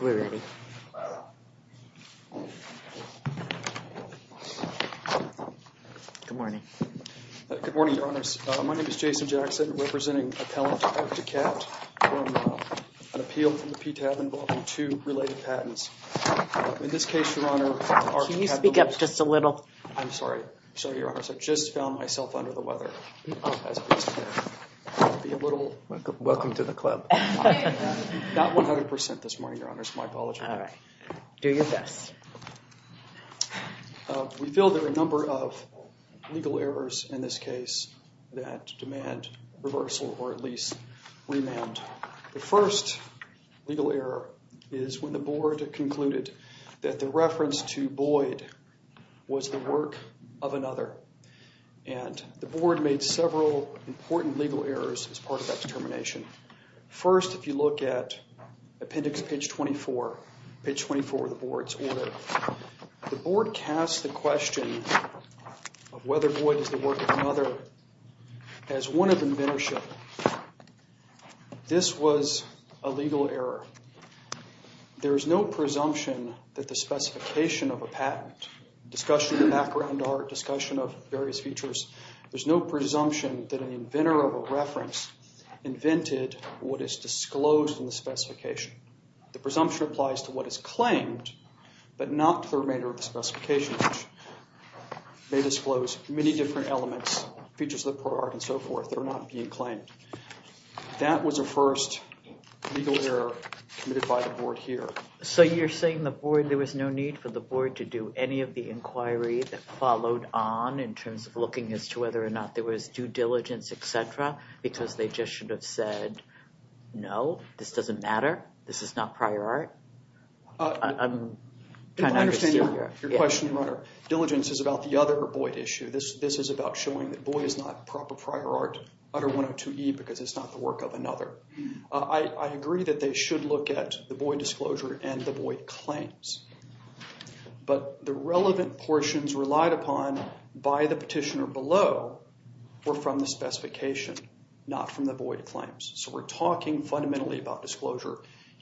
JOE DUNLAP Good morning, your honors. My name is Jason Jones. I'm representing appellant Art DeKalb from an appeal from the PTAB involving two related patents. In this case, your honor, Art DeKalb... DEKALB Can you speak up just a little? JONES I'm sorry. Sorry, your honors. I just found myself under the weather. DEKALB Welcome to the club. JONES Not 100% this morning, your honors. My apologies. DEKALB All right. Do your best. JONES We feel there are a number of legal errors in this case that demand reversal, or at least remand. The first legal error is when the board concluded that the reference to Boyd was the work of another. And the board made several important legal errors as part of that determination. First, if you look at appendix page 24, page 24 of the board's order. The board casts the question of whether Boyd is the work of another as one of inventorship. This was a legal error. There's no presumption that the specification of a patent, discussion of background art, discussion of various features, there's no presumption that an inventor of a reference invented what is disclosed in the specification. The presumption applies to what is claimed, but not to the remainder of the specification. They disclose many different elements, features of the part and so forth that are not being claimed. That was a first legal error committed by the board here. DEKALB So you're saying the board, there was no need for the board to do any of the inquiry that followed on in terms of looking as to whether or not there was due diligence, et cetera, because they just should have said, no, this doesn't matter? This is not prior art? I'm trying to understand your question, Your Honor. Diligence is about the other Boyd issue. This is about showing that Boyd is not proper prior art under 102E because it's not the work of another. I agree that they should look at the Boyd disclosure and the Boyd claims. But the relevant portions relied upon by the petitioner below were from the specification, not from the Boyd claims. So we're talking fundamentally about disclosure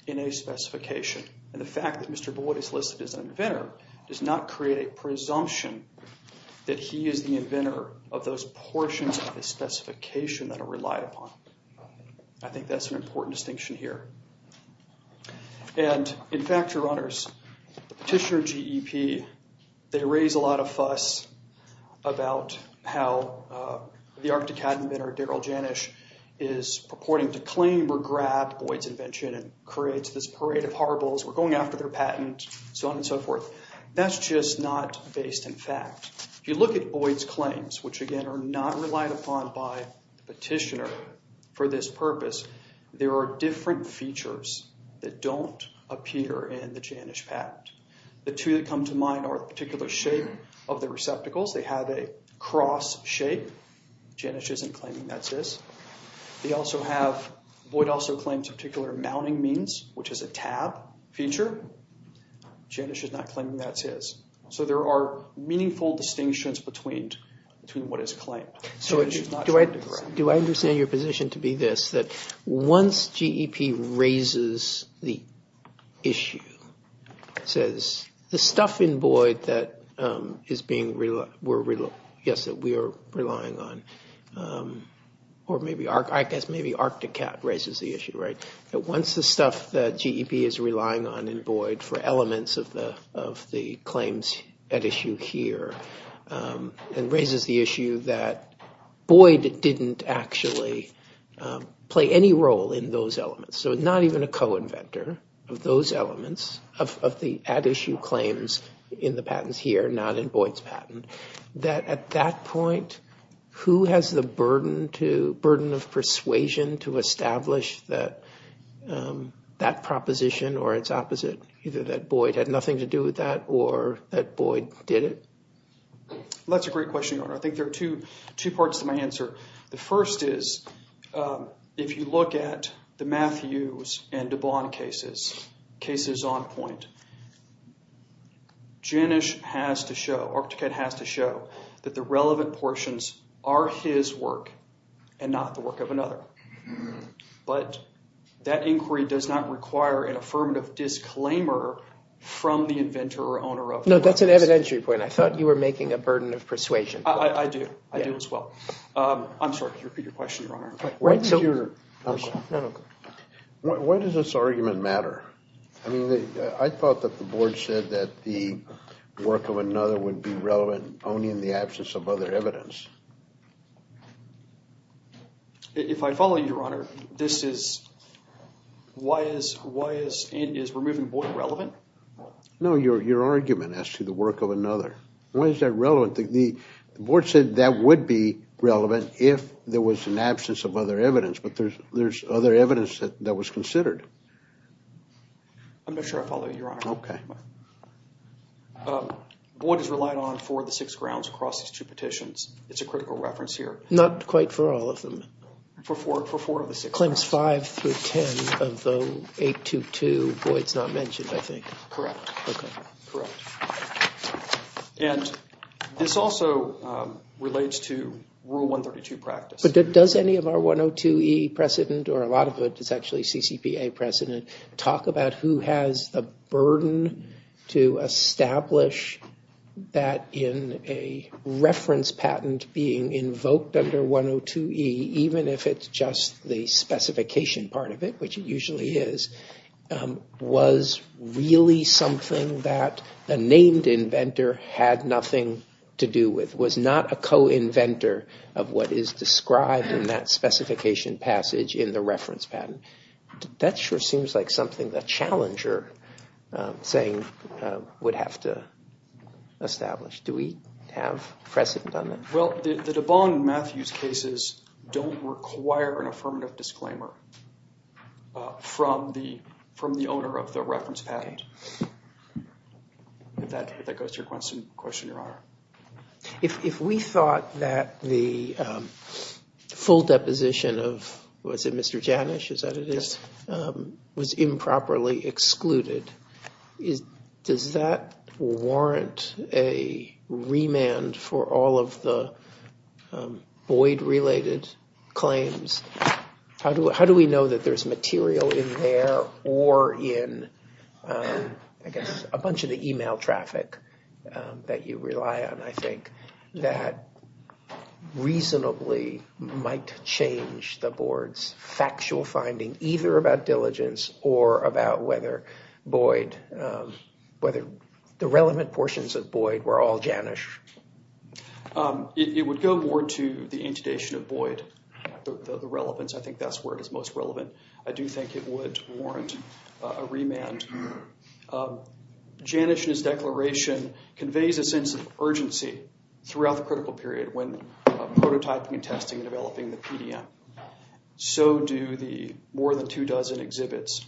in a specification and the fact that Mr. Boyd is listed as an inventor does not create a presumption that he is the inventor of those portions of the specification that are relied upon. I think that's an important distinction here. And in fact, Your Honors, the petitioner GEP, they raise a lot of fuss about how the Arctic is starting to claim or grab Boyd's invention and creates this parade of horribles. We're going after their patent, so on and so forth. That's just not based in fact. If you look at Boyd's claims, which again are not relied upon by the petitioner for this purpose, there are different features that don't appear in the Janish patent. The two that come to mind are a particular shape of the receptacles. They have a cross shape. Janish isn't claiming that's this. They also have, Boyd also claims a particular mounting means, which is a tab feature. Janish is not claiming that's his. So there are meaningful distinctions between what is claimed. So do I understand your position to be this, that once GEP raises the issue, says the stuff in Boyd that we are relying on, or maybe Arcticat raises the issue, that once the stuff that GEP is relying on in Boyd for elements of the claims at issue here and raises the issue that Boyd didn't actually play any role in those elements, so not even a co-inventor of those elements, of the at issue claims in the patents here, not in Boyd's patent, that at that point, who has the burden of persuasion to establish that proposition or its opposite? Either that Boyd had nothing to do with that or that Boyd did it? That's a great question, Your Honor. I think there are two parts to my answer. The first is, if you look at the Matthews and DuBois cases, cases on point, Janish has to show, Arcticat has to show that the relevant portions are his work and not the work of another. But that inquiry does not require an affirmative disclaimer from the inventor or owner of those. No, that's an evidentiary point. I thought you were making a burden of persuasion. I do. I do as well. I'm sorry, could you repeat your question, Your Honor? Why does your... No, no. Go ahead. Why does this argument matter? I mean, I thought that the Board said that the work of another would be relevant only in the absence of other evidence. If I follow you, Your Honor, this is, why is, why is, is removing Boyd relevant? No, your argument as to the work of another, why is that relevant? I don't think, the Board said that would be relevant if there was an absence of other evidence. But there's, there's other evidence that, that was considered. I'm not sure I follow you, Your Honor. Okay. Boyd has relied on four of the six grounds across these two petitions. It's a critical reference here. Not quite for all of them. For four, for four of the six. Claims five through ten of the 822, Boyd's not mentioned, I think. Correct. Okay. And this also relates to Rule 132 practice. Does any of our 102E precedent, or a lot of it is actually CCPA precedent, talk about who has the burden to establish that in a reference patent being invoked under 102E, even if it's just the specification part of it, which it usually is, was really something that a named inventor had nothing to do with, was not a co-inventor of what is described in that specification passage in the reference patent. That sure seems like something the challenger saying would have to establish. Do we have precedent on that? Well, the DeBong-Matthews cases don't require an affirmative disclaimer from the, from the If that goes to your question, Your Honor. If we thought that the full deposition of, was it Mr. Janish, is that it is, was improperly excluded, does that warrant a remand for all of the Boyd-related claims? How do we know that there's material in there or in, I guess, a bunch of the email traffic that you rely on, I think, that reasonably might change the board's factual finding, either about diligence or about whether Boyd, whether the relevant portions of Boyd were all Janish? It would go more to the intudation of Boyd, the relevance, I think that's where it is most relevant. I do think it would warrant a remand. Janish and his declaration conveys a sense of urgency throughout the critical period when prototyping and testing and developing the PDM. So do the more than two dozen exhibits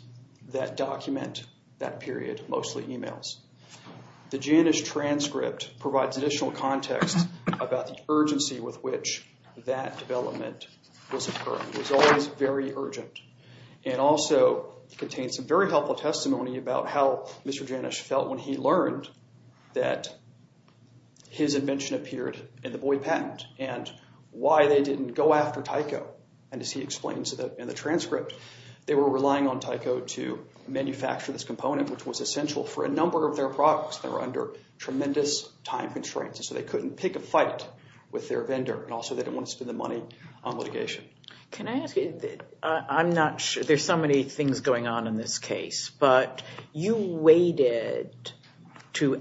that document that period, mostly emails. The Janish transcript provides additional context about the urgency with which that development was occurring. It was always very urgent. And also, it contains some very helpful testimony about how Mr. Janish felt when he learned that his invention appeared in the Boyd patent and why they didn't go after Tyco. And as he explains in the transcript, they were relying on Tyco to manufacture this component, which was essential for a number of their products that were under tremendous time constraints. So they couldn't pick a fight with their vendor, and also they didn't want to spend the money on litigation. Can I ask you, I'm not sure, there's so many things going on in this case, but you waited to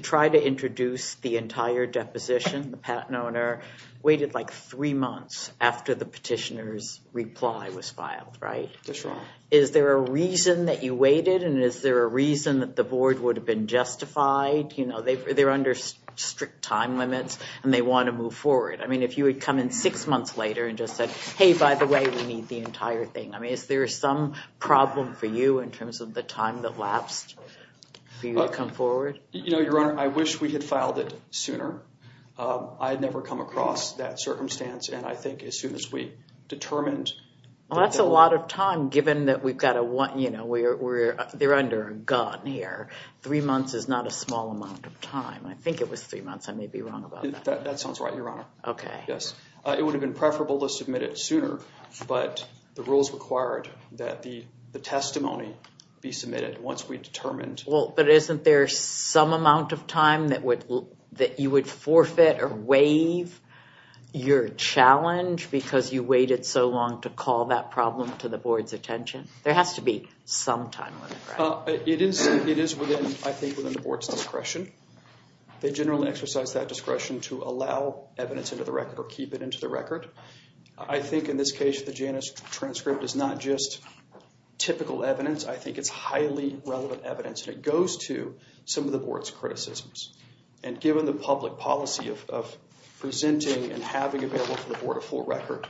try to introduce the entire deposition, the patent owner, waited like three months after the petitioner's reply was filed, right? That's right. Is there a reason that you waited, and is there a reason that the Board would have been justified? You know, they're under strict time limits, and they want to move forward. I mean, if you had come in six months later and just said, hey, by the way, we need the entire thing. I mean, is there some problem for you in terms of the time that lapsed for you to come forward? You know, Your Honor, I wish we had filed it sooner. I had never come across that circumstance, and I think as soon as we determined- Well, that's a lot of time given that we've got a one, you know, they're under a gun here. Three months is not a small amount of time. I think it was three months. I may be wrong about that. That sounds right, Your Honor. Okay. Yes. It would have been preferable to submit it sooner, but the rules required that the testimony be submitted once we determined- Well, but isn't there some amount of time that you would forfeit or waive your challenge because you waited so long to call that problem to the board's attention? There has to be some time on the ground. It is within, I think, within the board's discretion. They generally exercise that discretion to allow evidence into the record or keep it into the record. I think in this case, the Janus transcript is not just typical evidence. I think it's highly relevant evidence, and it goes to some of the board's criticisms. And given the public policy of presenting and having available to the board a full record,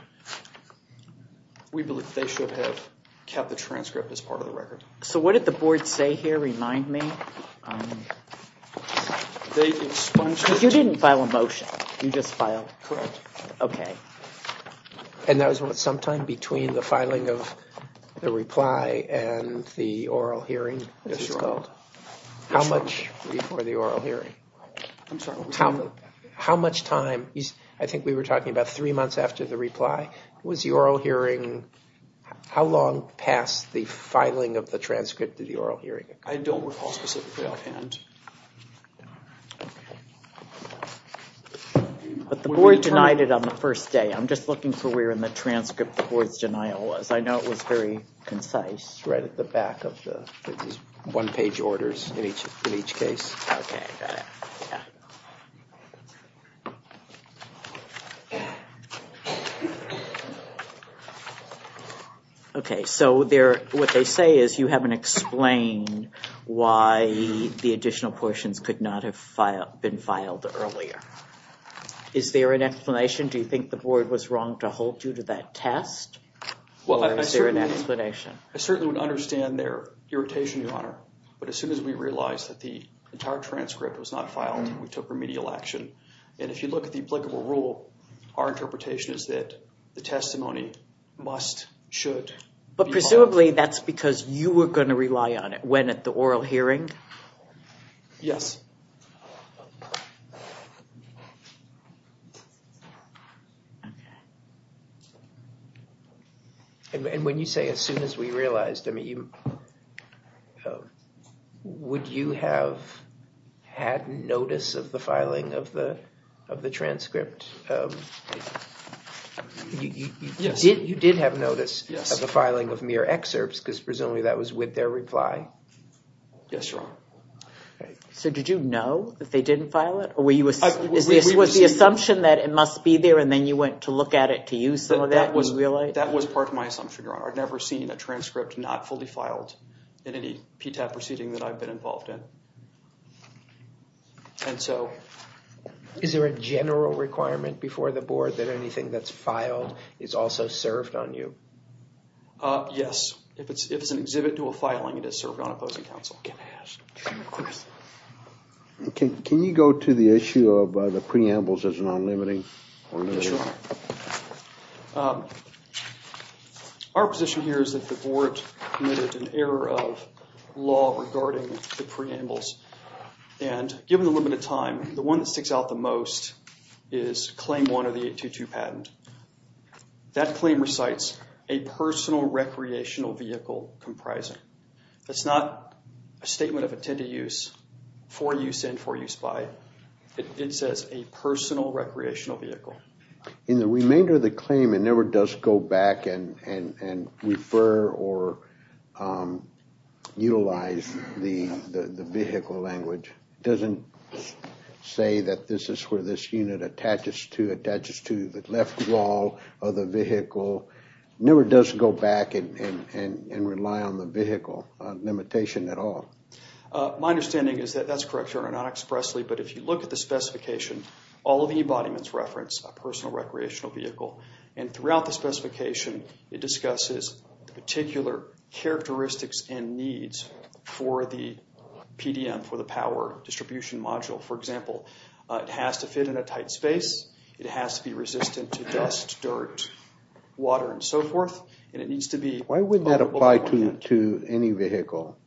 we believe they should have kept the transcript as part of the record. So what did the board say here, remind me? They expunged- You didn't file a motion. You just filed- Correct. Okay. And that was sometime between the filing of the reply and the oral hearing, it was called. How much before the oral hearing? How much time, I think we were talking about three months after the reply, was the oral hearing, how long past the filing of the transcript did the oral hearing occur? I don't recall specifically offhand. But the board denied it on the first day. I'm just looking for where in the transcript the board's denial was. I know it was very concise. It's right at the back of the one-page orders in each case. Okay, got it. Okay, so what they say is you haven't explained why the additional portions could not have been filed earlier. Is there an explanation? Do you think the board was wrong to hold you to that test? Or is there an explanation? I certainly would understand their irritation, Your Honor, but as soon as we realized that the entire transcript was not filed, we took remedial action. And if you look at the applicable rule, our interpretation is that the testimony must, should be filed. But presumably that's because you were going to rely on it when at the oral hearing? Yes. And when you say as soon as we realized, would you have had notice of the filing of the transcript? Yes. You did have notice of the filing of mere excerpts because presumably that was with Yes, Your Honor. Okay. So did you know that they didn't file it, or was the assumption that it must be there and then you went to look at it to use some of that and you realized? That was part of my assumption, Your Honor. I've never seen a transcript not fully filed in any PTAB proceeding that I've been involved in. And so... Is there a general requirement before the board that anything that's filed is also served on you? Yes. If it's an exhibit to a filing, it is served on opposing counsel. Yes. Can you go to the issue of the preambles as non-limiting? Yes, Your Honor. Our position here is that the board committed an error of law regarding the preambles. And given the limited time, the one that sticks out the most is claim one of the 822 patent. That claim recites a personal recreational vehicle comprising. That's not a statement of intended use, for use and for use by. It says a personal recreational vehicle. In the remainder of the claim, it never does go back and refer or utilize the vehicle language. It doesn't say that this is where this unit attaches to, attaches to the left wall of the vehicle. So it never does go back and rely on the vehicle limitation at all. My understanding is that that's correct, Your Honor, not expressly. But if you look at the specification, all of the embodiments reference a personal recreational vehicle. And throughout the specification, it discusses the particular characteristics and needs for the PDM, for the power distribution module. For example, it has to fit in a tight space. It has to be resistant to dust, dirt, water, and so forth. And it needs to be... Why wouldn't that apply to any vehicle?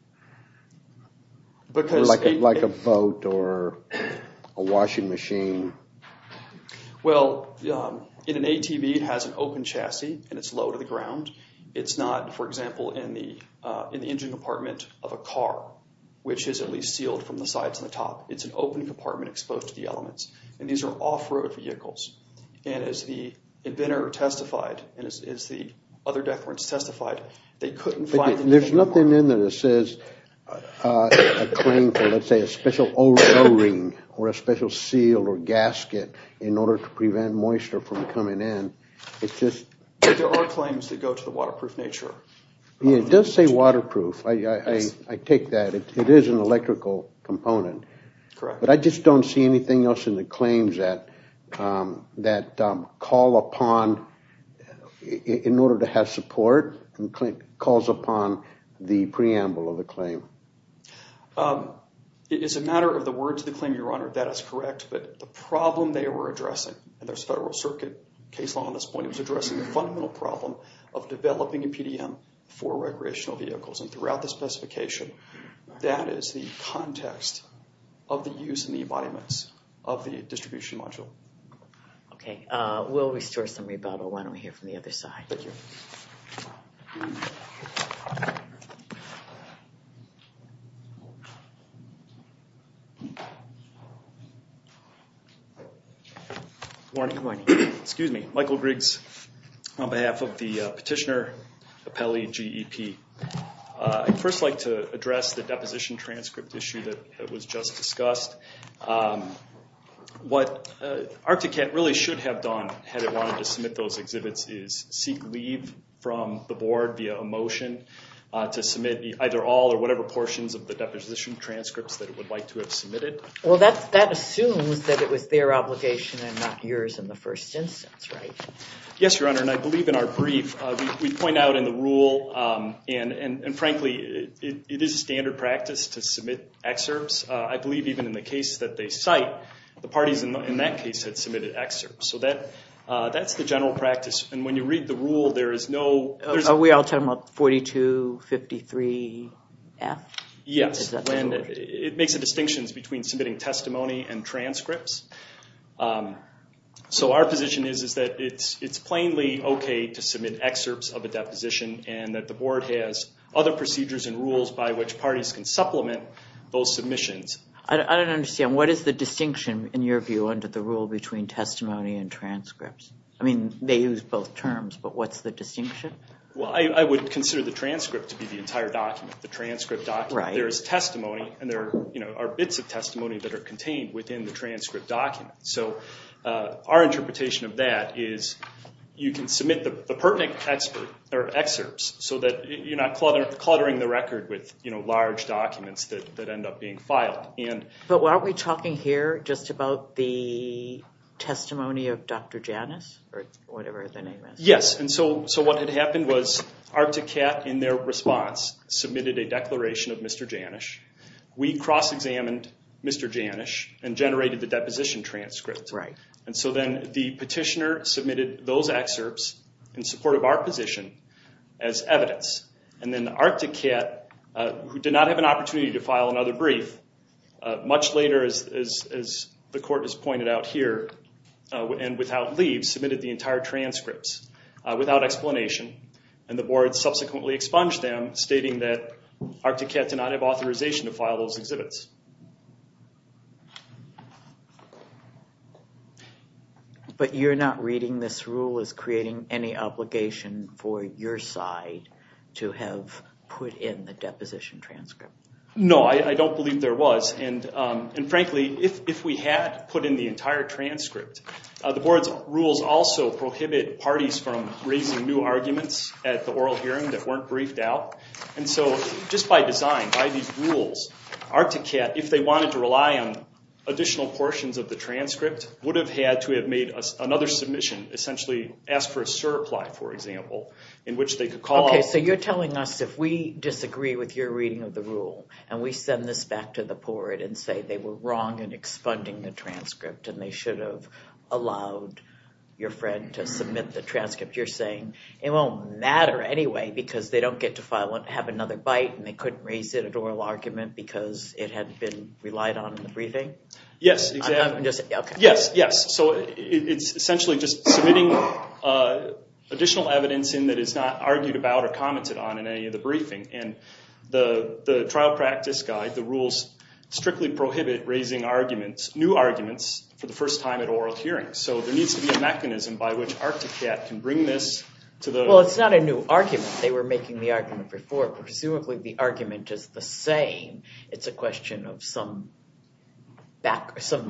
Like a boat or a washing machine? Well, in an ATV, it has an open chassis and it's low to the ground. It's not, for example, in the engine compartment of a car, which is at least sealed from the sides and the top. It's an open compartment exposed to the elements. And these are off-road vehicles. And as the inventor testified, and as the other death warrants testified, they couldn't find... There's nothing in there that says a claim for, let's say, a special O-ring or a special seal or gasket in order to prevent moisture from coming in. It's just... There are claims that go to the waterproof nature. Yeah, it does say waterproof. I take that. It is an electrical component. Correct. But I just don't see anything else in the claims that call upon, in order to have support, calls upon the preamble of the claim. It's a matter of the words of the claim, Your Honor. That is correct. But the problem they were addressing, and there's a Federal Circuit case law on this point, it was addressing the fundamental problem of developing a PDM for recreational vehicles. And throughout the specification, that is the context of the use and the embodiments of the distribution module. Okay. We'll restore some rebuttal. Why don't we hear from the other side? Thank you. Good morning. Good morning. Excuse me. Michael Griggs on behalf of the Petitioner Appellee GEP. I'd first like to address the deposition transcript issue that was just discussed. What ARCTICAT really should have done, had it wanted to submit those exhibits, is seek leave from the Board via a motion to submit either all or whatever portions Well, that assumes that it was their obligation and not yours in the first instance, right? Yes, Your Honor. And I believe in our brief, we point out in the rule, and frankly, it is a standard practice to submit excerpts. I believe even in the case that they cite, the parties in that case had submitted excerpts. So that's the general practice. And when you read the rule, there is no Are we all talking about 4253F? Yes. It makes a distinction between submitting testimony and transcripts. So our position is that it's plainly okay to submit excerpts of a deposition and that the Board has other procedures and rules by which parties can supplement those submissions. I don't understand. What is the distinction, in your view, under the rule between testimony and transcripts? I mean, they use both terms, but what's the distinction? Well, I would consider the transcript to be the entire document, the transcript document. There is testimony, and there are bits of testimony that are contained within the transcript document. So our interpretation of that is you can submit the pertinent excerpts so that you're not cluttering the record with large documents that end up being filed. But aren't we talking here just about the testimony of Dr. Janus or whatever the name is? Yes. And so what had happened was Arctic Cat, in their response, submitted a declaration of Mr. Janus. We cross-examined Mr. Janus and generated the deposition transcript. And so then the petitioner submitted those excerpts in support of our position as evidence. And then Arctic Cat, who did not have an opportunity to file another brief, much later, as the court has pointed out here, and without leave, submitted the entire transcripts without explanation. And the board subsequently expunged them, stating that Arctic Cat did not have authorization to file those exhibits. But you're not reading this rule as creating any obligation for your side to have put in the deposition transcript? No, I don't believe there was. And frankly, if we had put in the entire transcript, the board's rules also prohibit parties from raising new arguments at the oral hearing that weren't briefed out. And so just by design, by these rules, Arctic Cat, if they wanted to rely on additional portions of the transcript, would have had to have made another submission, essentially ask for a surreply, for example, in which they could call us. Okay, so you're telling us if we disagree with your reading of the rule, and we send this back to the board and say they were wrong in expunding the transcript and they should have allowed your friend to submit the transcript, you're saying it won't matter anyway because they don't get to have another bite and they couldn't raise it at oral argument because it had been relied on in the briefing? Yes. So it's essentially just submitting additional evidence in that is not argued about or commented on in any of the briefing. And the trial practice guide, the rules, strictly prohibit raising arguments, new arguments, for the first time at oral hearings. So there needs to be a mechanism by which Arctic Cat can bring this to the... Well, it's not a new argument. They were making the argument before. Presumably the argument is the same. It's a question of some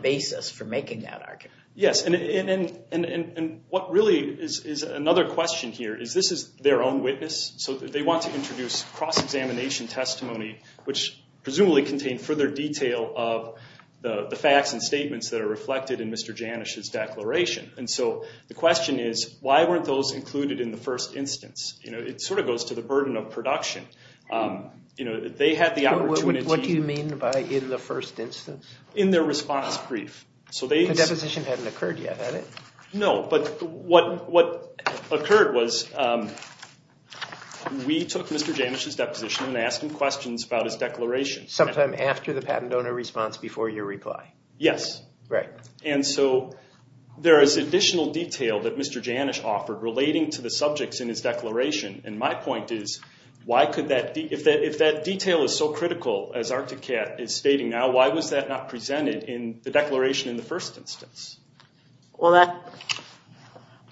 basis for making that argument. Yes, and what really is another question here is this is their own witness, so they want to introduce cross-examination testimony, which presumably contained further detail of the facts and statements that are reflected in Mr. Janish's declaration. And so the question is, why weren't those included in the first instance? It sort of goes to the burden of production. They had the opportunity... What do you mean by in the first instance? In their response brief. The deposition hadn't occurred yet, had it? No, but what occurred was we took Mr. Janish's deposition and asked him questions about his declaration. Sometime after the patent owner response before your reply? Yes, and so there is additional detail that Mr. Janish offered relating to the subjects in his declaration, and my point is, if that detail is so critical as Arctic Cat is stating now, why was that not presented in the declaration in the first instance? Well,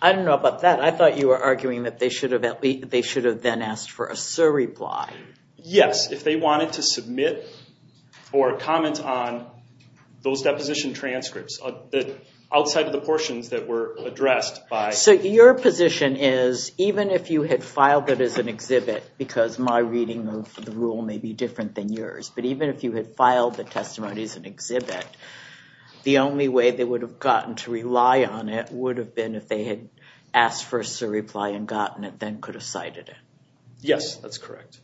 I don't know about that. I thought you were arguing that they should have then asked for a surreply. Yes, if they wanted to submit or comment on those deposition transcripts outside of the portions that were addressed by... So your position is, even if you had filed it as an exhibit, because my reading of the rule may be different than yours, but even if you had filed the testimony as an exhibit, the only way they would have gotten to rely on it would have been if they had asked for a surreply and gotten it, then could have cited it. Yes, that's correct.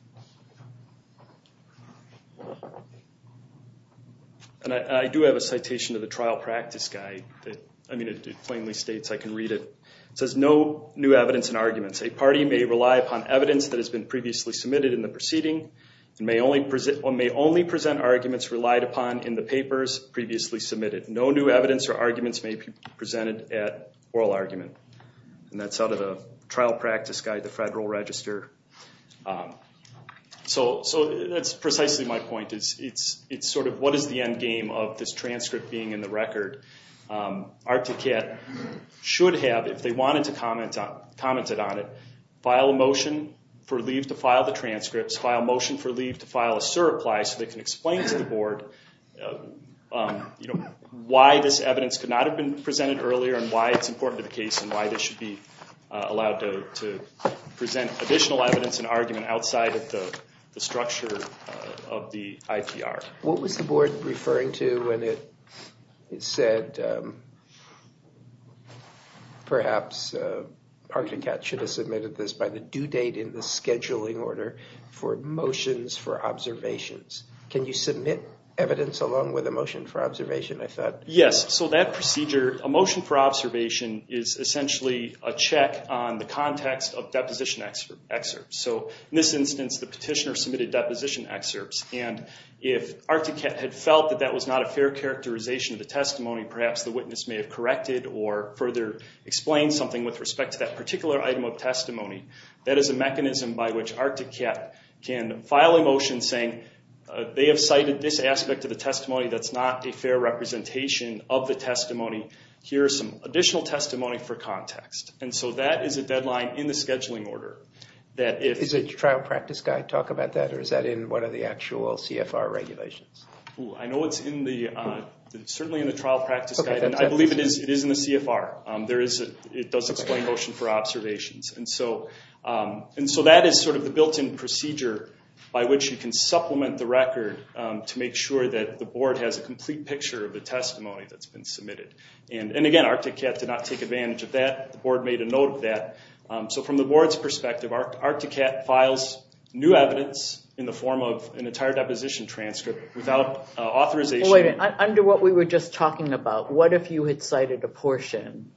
And I do have a citation of the trial practice guide that, I mean, it plainly states, I can read it. It says, no new evidence and arguments. A party may rely upon evidence that has been previously submitted in the proceeding and may only present arguments relied upon in the papers previously submitted. No new evidence or arguments may be presented at oral argument. And that's out of the trial practice guide, the federal register. So that's precisely my point. It's sort of, what is the end game of this transcript being in the record? Articat should have, if they wanted to comment on it, file a motion for leave to file the transcripts, file a motion for leave to file a surreply so they can explain to the board why this evidence could not have been presented earlier and why it's important to the case and why they should be allowed to present additional evidence and argument outside of the structure of the IPR. What was the board referring to when it said, perhaps Articat should have submitted this by the due date in the scheduling order for motions for observations? Can you submit evidence along with a motion for observation, I thought? Yes, so that procedure, a motion for observation is essentially a check on the context of deposition excerpts. So in this instance, the petitioner submitted deposition excerpts and if Articat had felt that that was not a fair characterization of the testimony, perhaps the witness may have corrected or further explained something with respect to that particular item of testimony. That is a mechanism by which Articat can file a motion saying, they have cited this aspect of the testimony that's not a fair representation of the testimony. Here's some additional testimony for context. And so that is a deadline in the scheduling order. Is the trial practice guide talk about that or is that in one of the actual CFR regulations? I know it's certainly in the trial practice guide and I believe it is in the CFR. It does explain motion for observations. And so that is sort of the built-in procedure by which you can supplement the record to make sure that the board has a complete picture of the testimony that's been submitted. And again, Articat did not take advantage of that. The board made a note of that. So from the board's perspective, Articat files new evidence in the form of an entire deposition transcript without authorization. Under what we were just talking about, what if you had cited a portion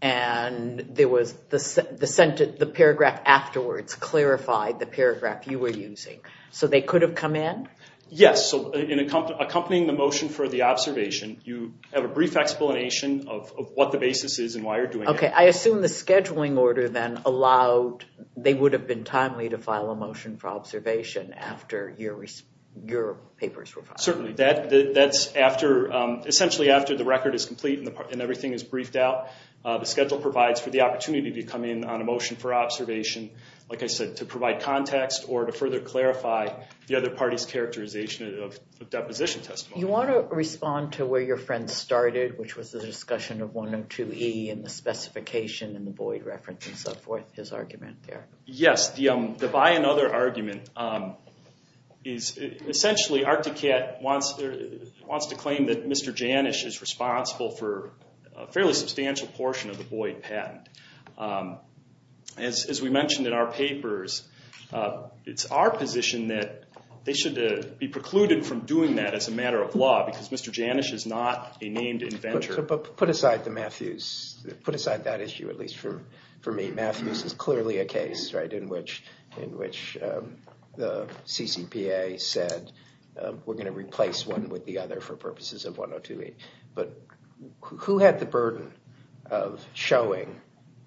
and the paragraph afterwards clarified the paragraph you were using? So they could have come in? Yes. So in accompanying the motion for the observation, you have a brief explanation of what the basis is and why you're doing it. Okay. I assume the scheduling order then allowed, they would have been timely to file a motion for observation after your papers were filed. Certainly. That's essentially after the record is complete and everything is briefed out. The schedule provides for the opportunity to come in on a motion for observation, like I said, to provide context or to further clarify the other party's characterization of deposition testimony. You want to respond to where your friend started, which was the discussion of 102E and the specification and the Boyd reference and so forth, his argument there. Yes. The buy another argument is essentially Articat wants to claim that Mr. Janish is responsible for a fairly substantial portion of the Boyd patent. As we mentioned in our papers, it's our position that they should be precluded from doing that as a matter of law because Mr. Janish is not a named inventor. Put aside the Matthews, put aside that issue, at least for me. Matthews is clearly a case in which the CCPA said we're going to replace one with the other for purposes of 102E. But who had the burden of showing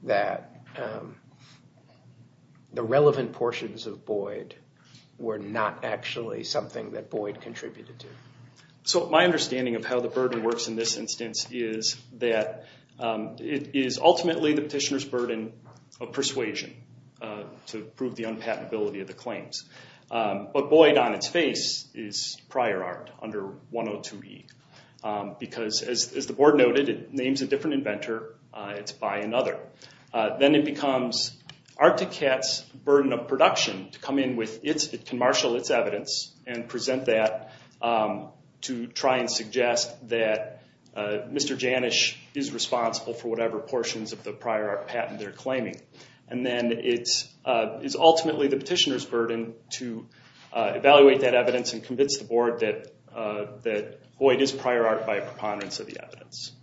that the relevant portions of Boyd were not actually something that Boyd contributed to? My understanding of how the burden works in this instance is that it is ultimately the petitioner's burden of persuasion to prove the unpatentability of the claims. But Boyd on its face is prior art under 102E because as the board noted, it names a different inventor, it's buy another. Then it becomes Articat's burden of production to come in with its, it can marshal its evidence and present that to try and suggest that Mr. Janish is responsible for whatever portions of the prior art patent they're claiming. And then it's ultimately the petitioner's burden to evaluate that evidence and convince the board that Boyd is prior art by a preponderance of the evidence.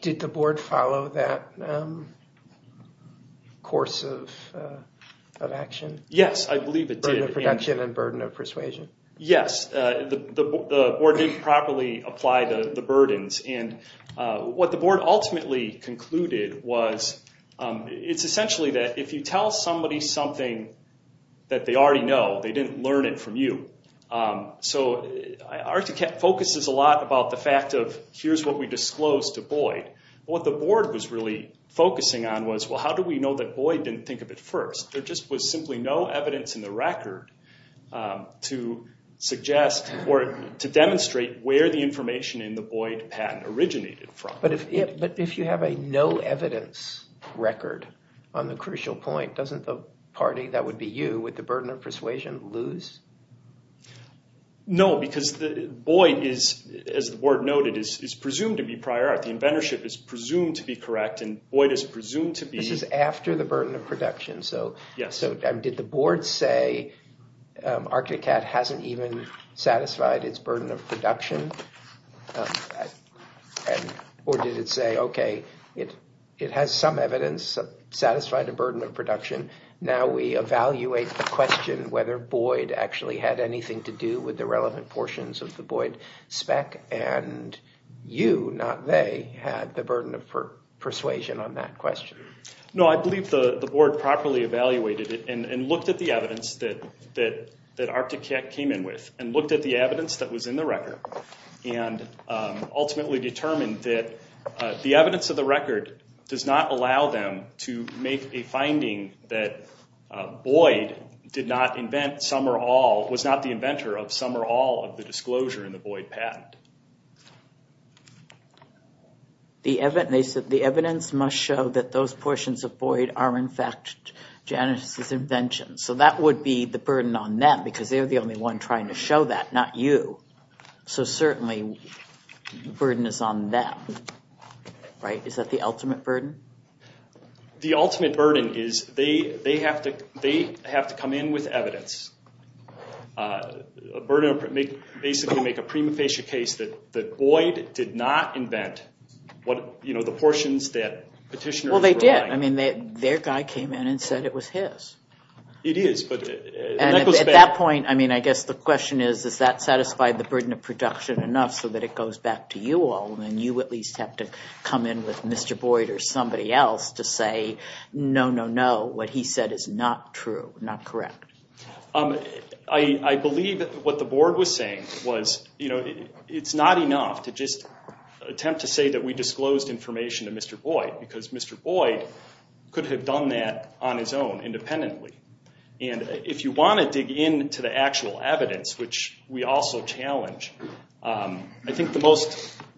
Did the board follow that course of action? Yes, I believe it did. Burden of production and burden of persuasion? Yes, the board didn't properly apply the burdens. And what the board ultimately concluded was it's essentially that if you tell somebody something that they already know, they didn't learn it from you. So Articat focuses a lot about the fact of here's what we disclosed to Boyd. What the board was really focusing on was well how do we know that Boyd didn't think of it first? There just was simply no evidence in the record to suggest or to demonstrate where the information in the Boyd patent originated from. But if you have a no evidence record on the crucial point, doesn't the party, that would be you, with the burden of persuasion lose? No, because Boyd is, as the board noted, is presumed to be prior art. The inventorship is presumed to be correct and Boyd is presumed to be- This is after the burden of production. So did the board say Articat hasn't even satisfied its burden of production? Or did it say, okay, it has some evidence, satisfied a burden of production. Now we evaluate the question whether Boyd actually had anything to do with the relevant portions of the Boyd spec. And you, not they, had the burden of persuasion on that question. No, I believe the board properly evaluated it and looked at the evidence that Articat came in with. And looked at the evidence that was in the record. And ultimately determined that the evidence of the record does not allow them to make a finding that Boyd did not invent some or all, was not the inventor of some or all of the disclosure in the Boyd patent. They said the evidence must show that those portions of Boyd are in fact Janice's inventions. So that would be the burden on them because they're the only one trying to show that, not you. So certainly the burden is on them, right? Is that the ultimate burden? The ultimate burden is they have to come in with evidence. Basically make a prima facie case that Boyd did not invent the portions that petitioners were buying. I mean, their guy came in and said it was his. It is. At that point, I mean, I guess the question is, is that satisfied the burden of production enough so that it goes back to you all? And you at least have to come in with Mr. Boyd or somebody else to say, no, no, no, what he said is not true, not correct. I believe what the board was saying was, you know, it's not enough to just attempt to say that we disclosed information to Mr. Boyd. Because Mr. Boyd could have done that on his own independently. And if you want to dig into the actual evidence, which we also challenge, I think the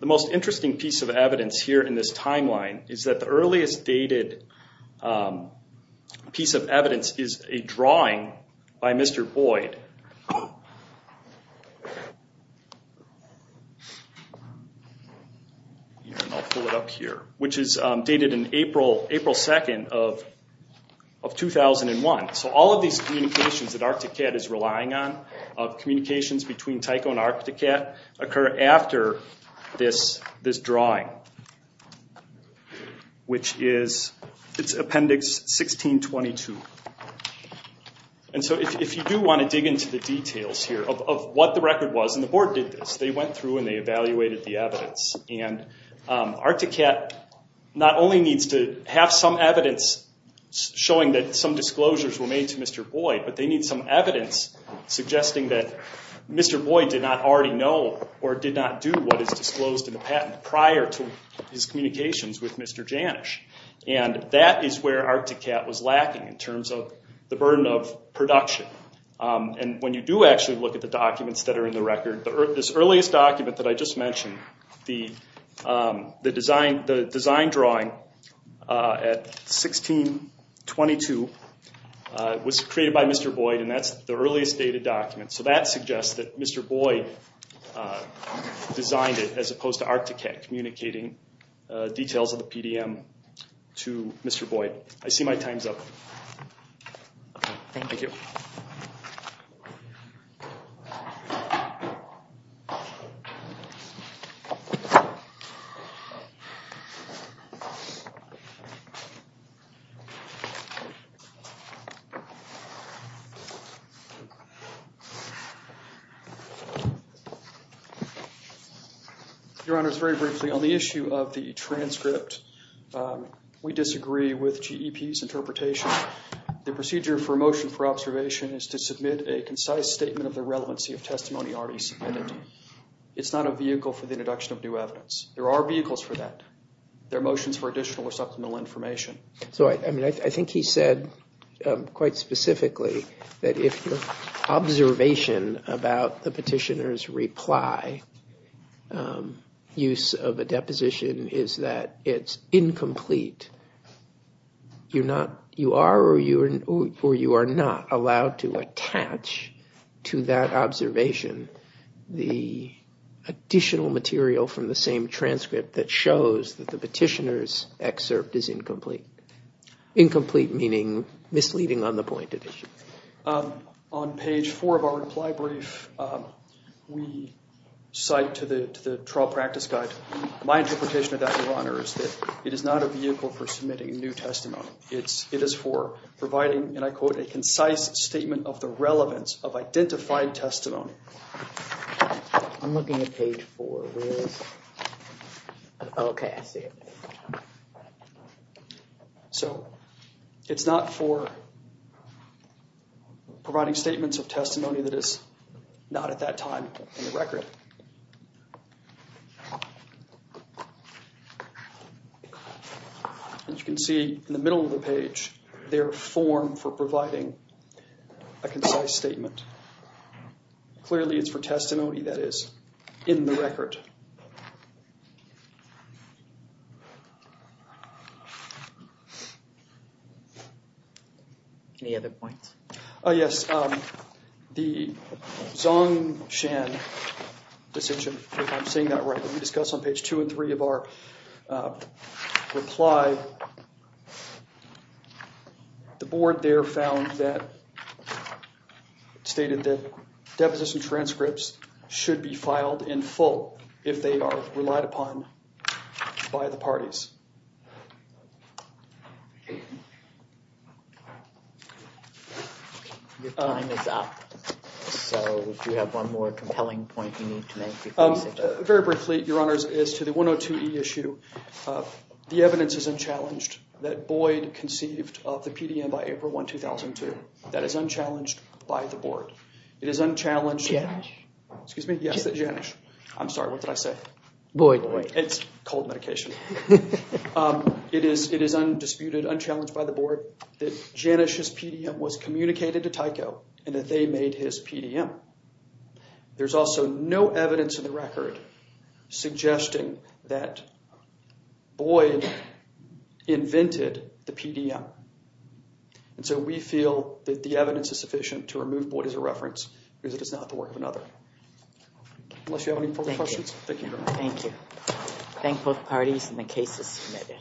most interesting piece of evidence here in this timeline is that the earliest dated piece of evidence is a drawing by Mr. Boyd. I'll pull it up here. Which is dated in April 2nd of 2001. So all of these communications that Arcticat is relying on, communications between Tycho and Arcticat, occur after this drawing. Which is, it's appendix 1622. And so if you do want to dig into the details here of what the record was, and the board did this, they went through and they evaluated the evidence. And Arcticat not only needs to have some evidence showing that some disclosures were made to Mr. Boyd, but they need some evidence suggesting that Mr. Boyd did not already know or did not do what is disclosed in the patent prior to his communications with Mr. Janisch. And that is where Arcticat was lacking in terms of the burden of production. And when you do actually look at the documents that are in the record, this earliest document that I just mentioned, the design drawing at 1622 was created by Mr. Boyd and that's the earliest dated document. So that suggests that Mr. Boyd designed it as opposed to Arcticat communicating details of the PDM to Mr. Boyd. I see my time's up. Thank you. Your Honor, very briefly, on the issue of the transcript, we disagree with GEP's interpretation. The procedure for a motion for observation is to submit a concise statement of the relevancy of testimony already submitted. It's not a vehicle for the introduction of new evidence. There are vehicles for that. There are motions for additional or substantial information. So, I mean, I think he said quite specifically that if the observation about the petitioner's reply, use of a deposition, is that it's incomplete, you're not, you are or you are not allowed to attach to that observation the additional material from the same transcript that shows that the petitioner's excerpt is incomplete. Incomplete meaning misleading on the point of issue. On page four of our reply brief, we cite to the trial practice guide, my interpretation of that, Your Honor, is that it is not a vehicle for submitting new testimony. It is for providing, and I quote, a concise statement of the relevance of identified testimony. I'm looking at page four. Okay, I see it. So, it's not for providing statements of testimony that is not at that time in the record. As you can see in the middle of the page, there are forms for providing a concise statement. Clearly, it's for testimony that is in the record. Any other points? Yes, the Zong Shan decision, if I'm saying that right, that we discussed on page two and three of our reply, the board there found that, stated that deposition transcripts should be filed in full if they are relied upon by the parties. Your time is up. So, do you have one more compelling point you need to make? Very briefly, Your Honors, as to the 102E issue, the evidence is unchallenged that Boyd conceived of the PDM by April 1, 2002. That is unchallenged by the board. It is unchallenged. Janish? Excuse me? Yes, Janish. I'm sorry, what did I say? Boyd. It's cold medication. It is undisputed, unchallenged by the board that Janish's PDM was communicated to Tyco and that they made his PDM. There's also no evidence in the record suggesting that Boyd invented the PDM. And so we feel that the evidence is sufficient to remove Boyd as a reference because it is not the work of another. Unless you have any further questions? Thank you. Thank you. Thank both parties and the cases submitted.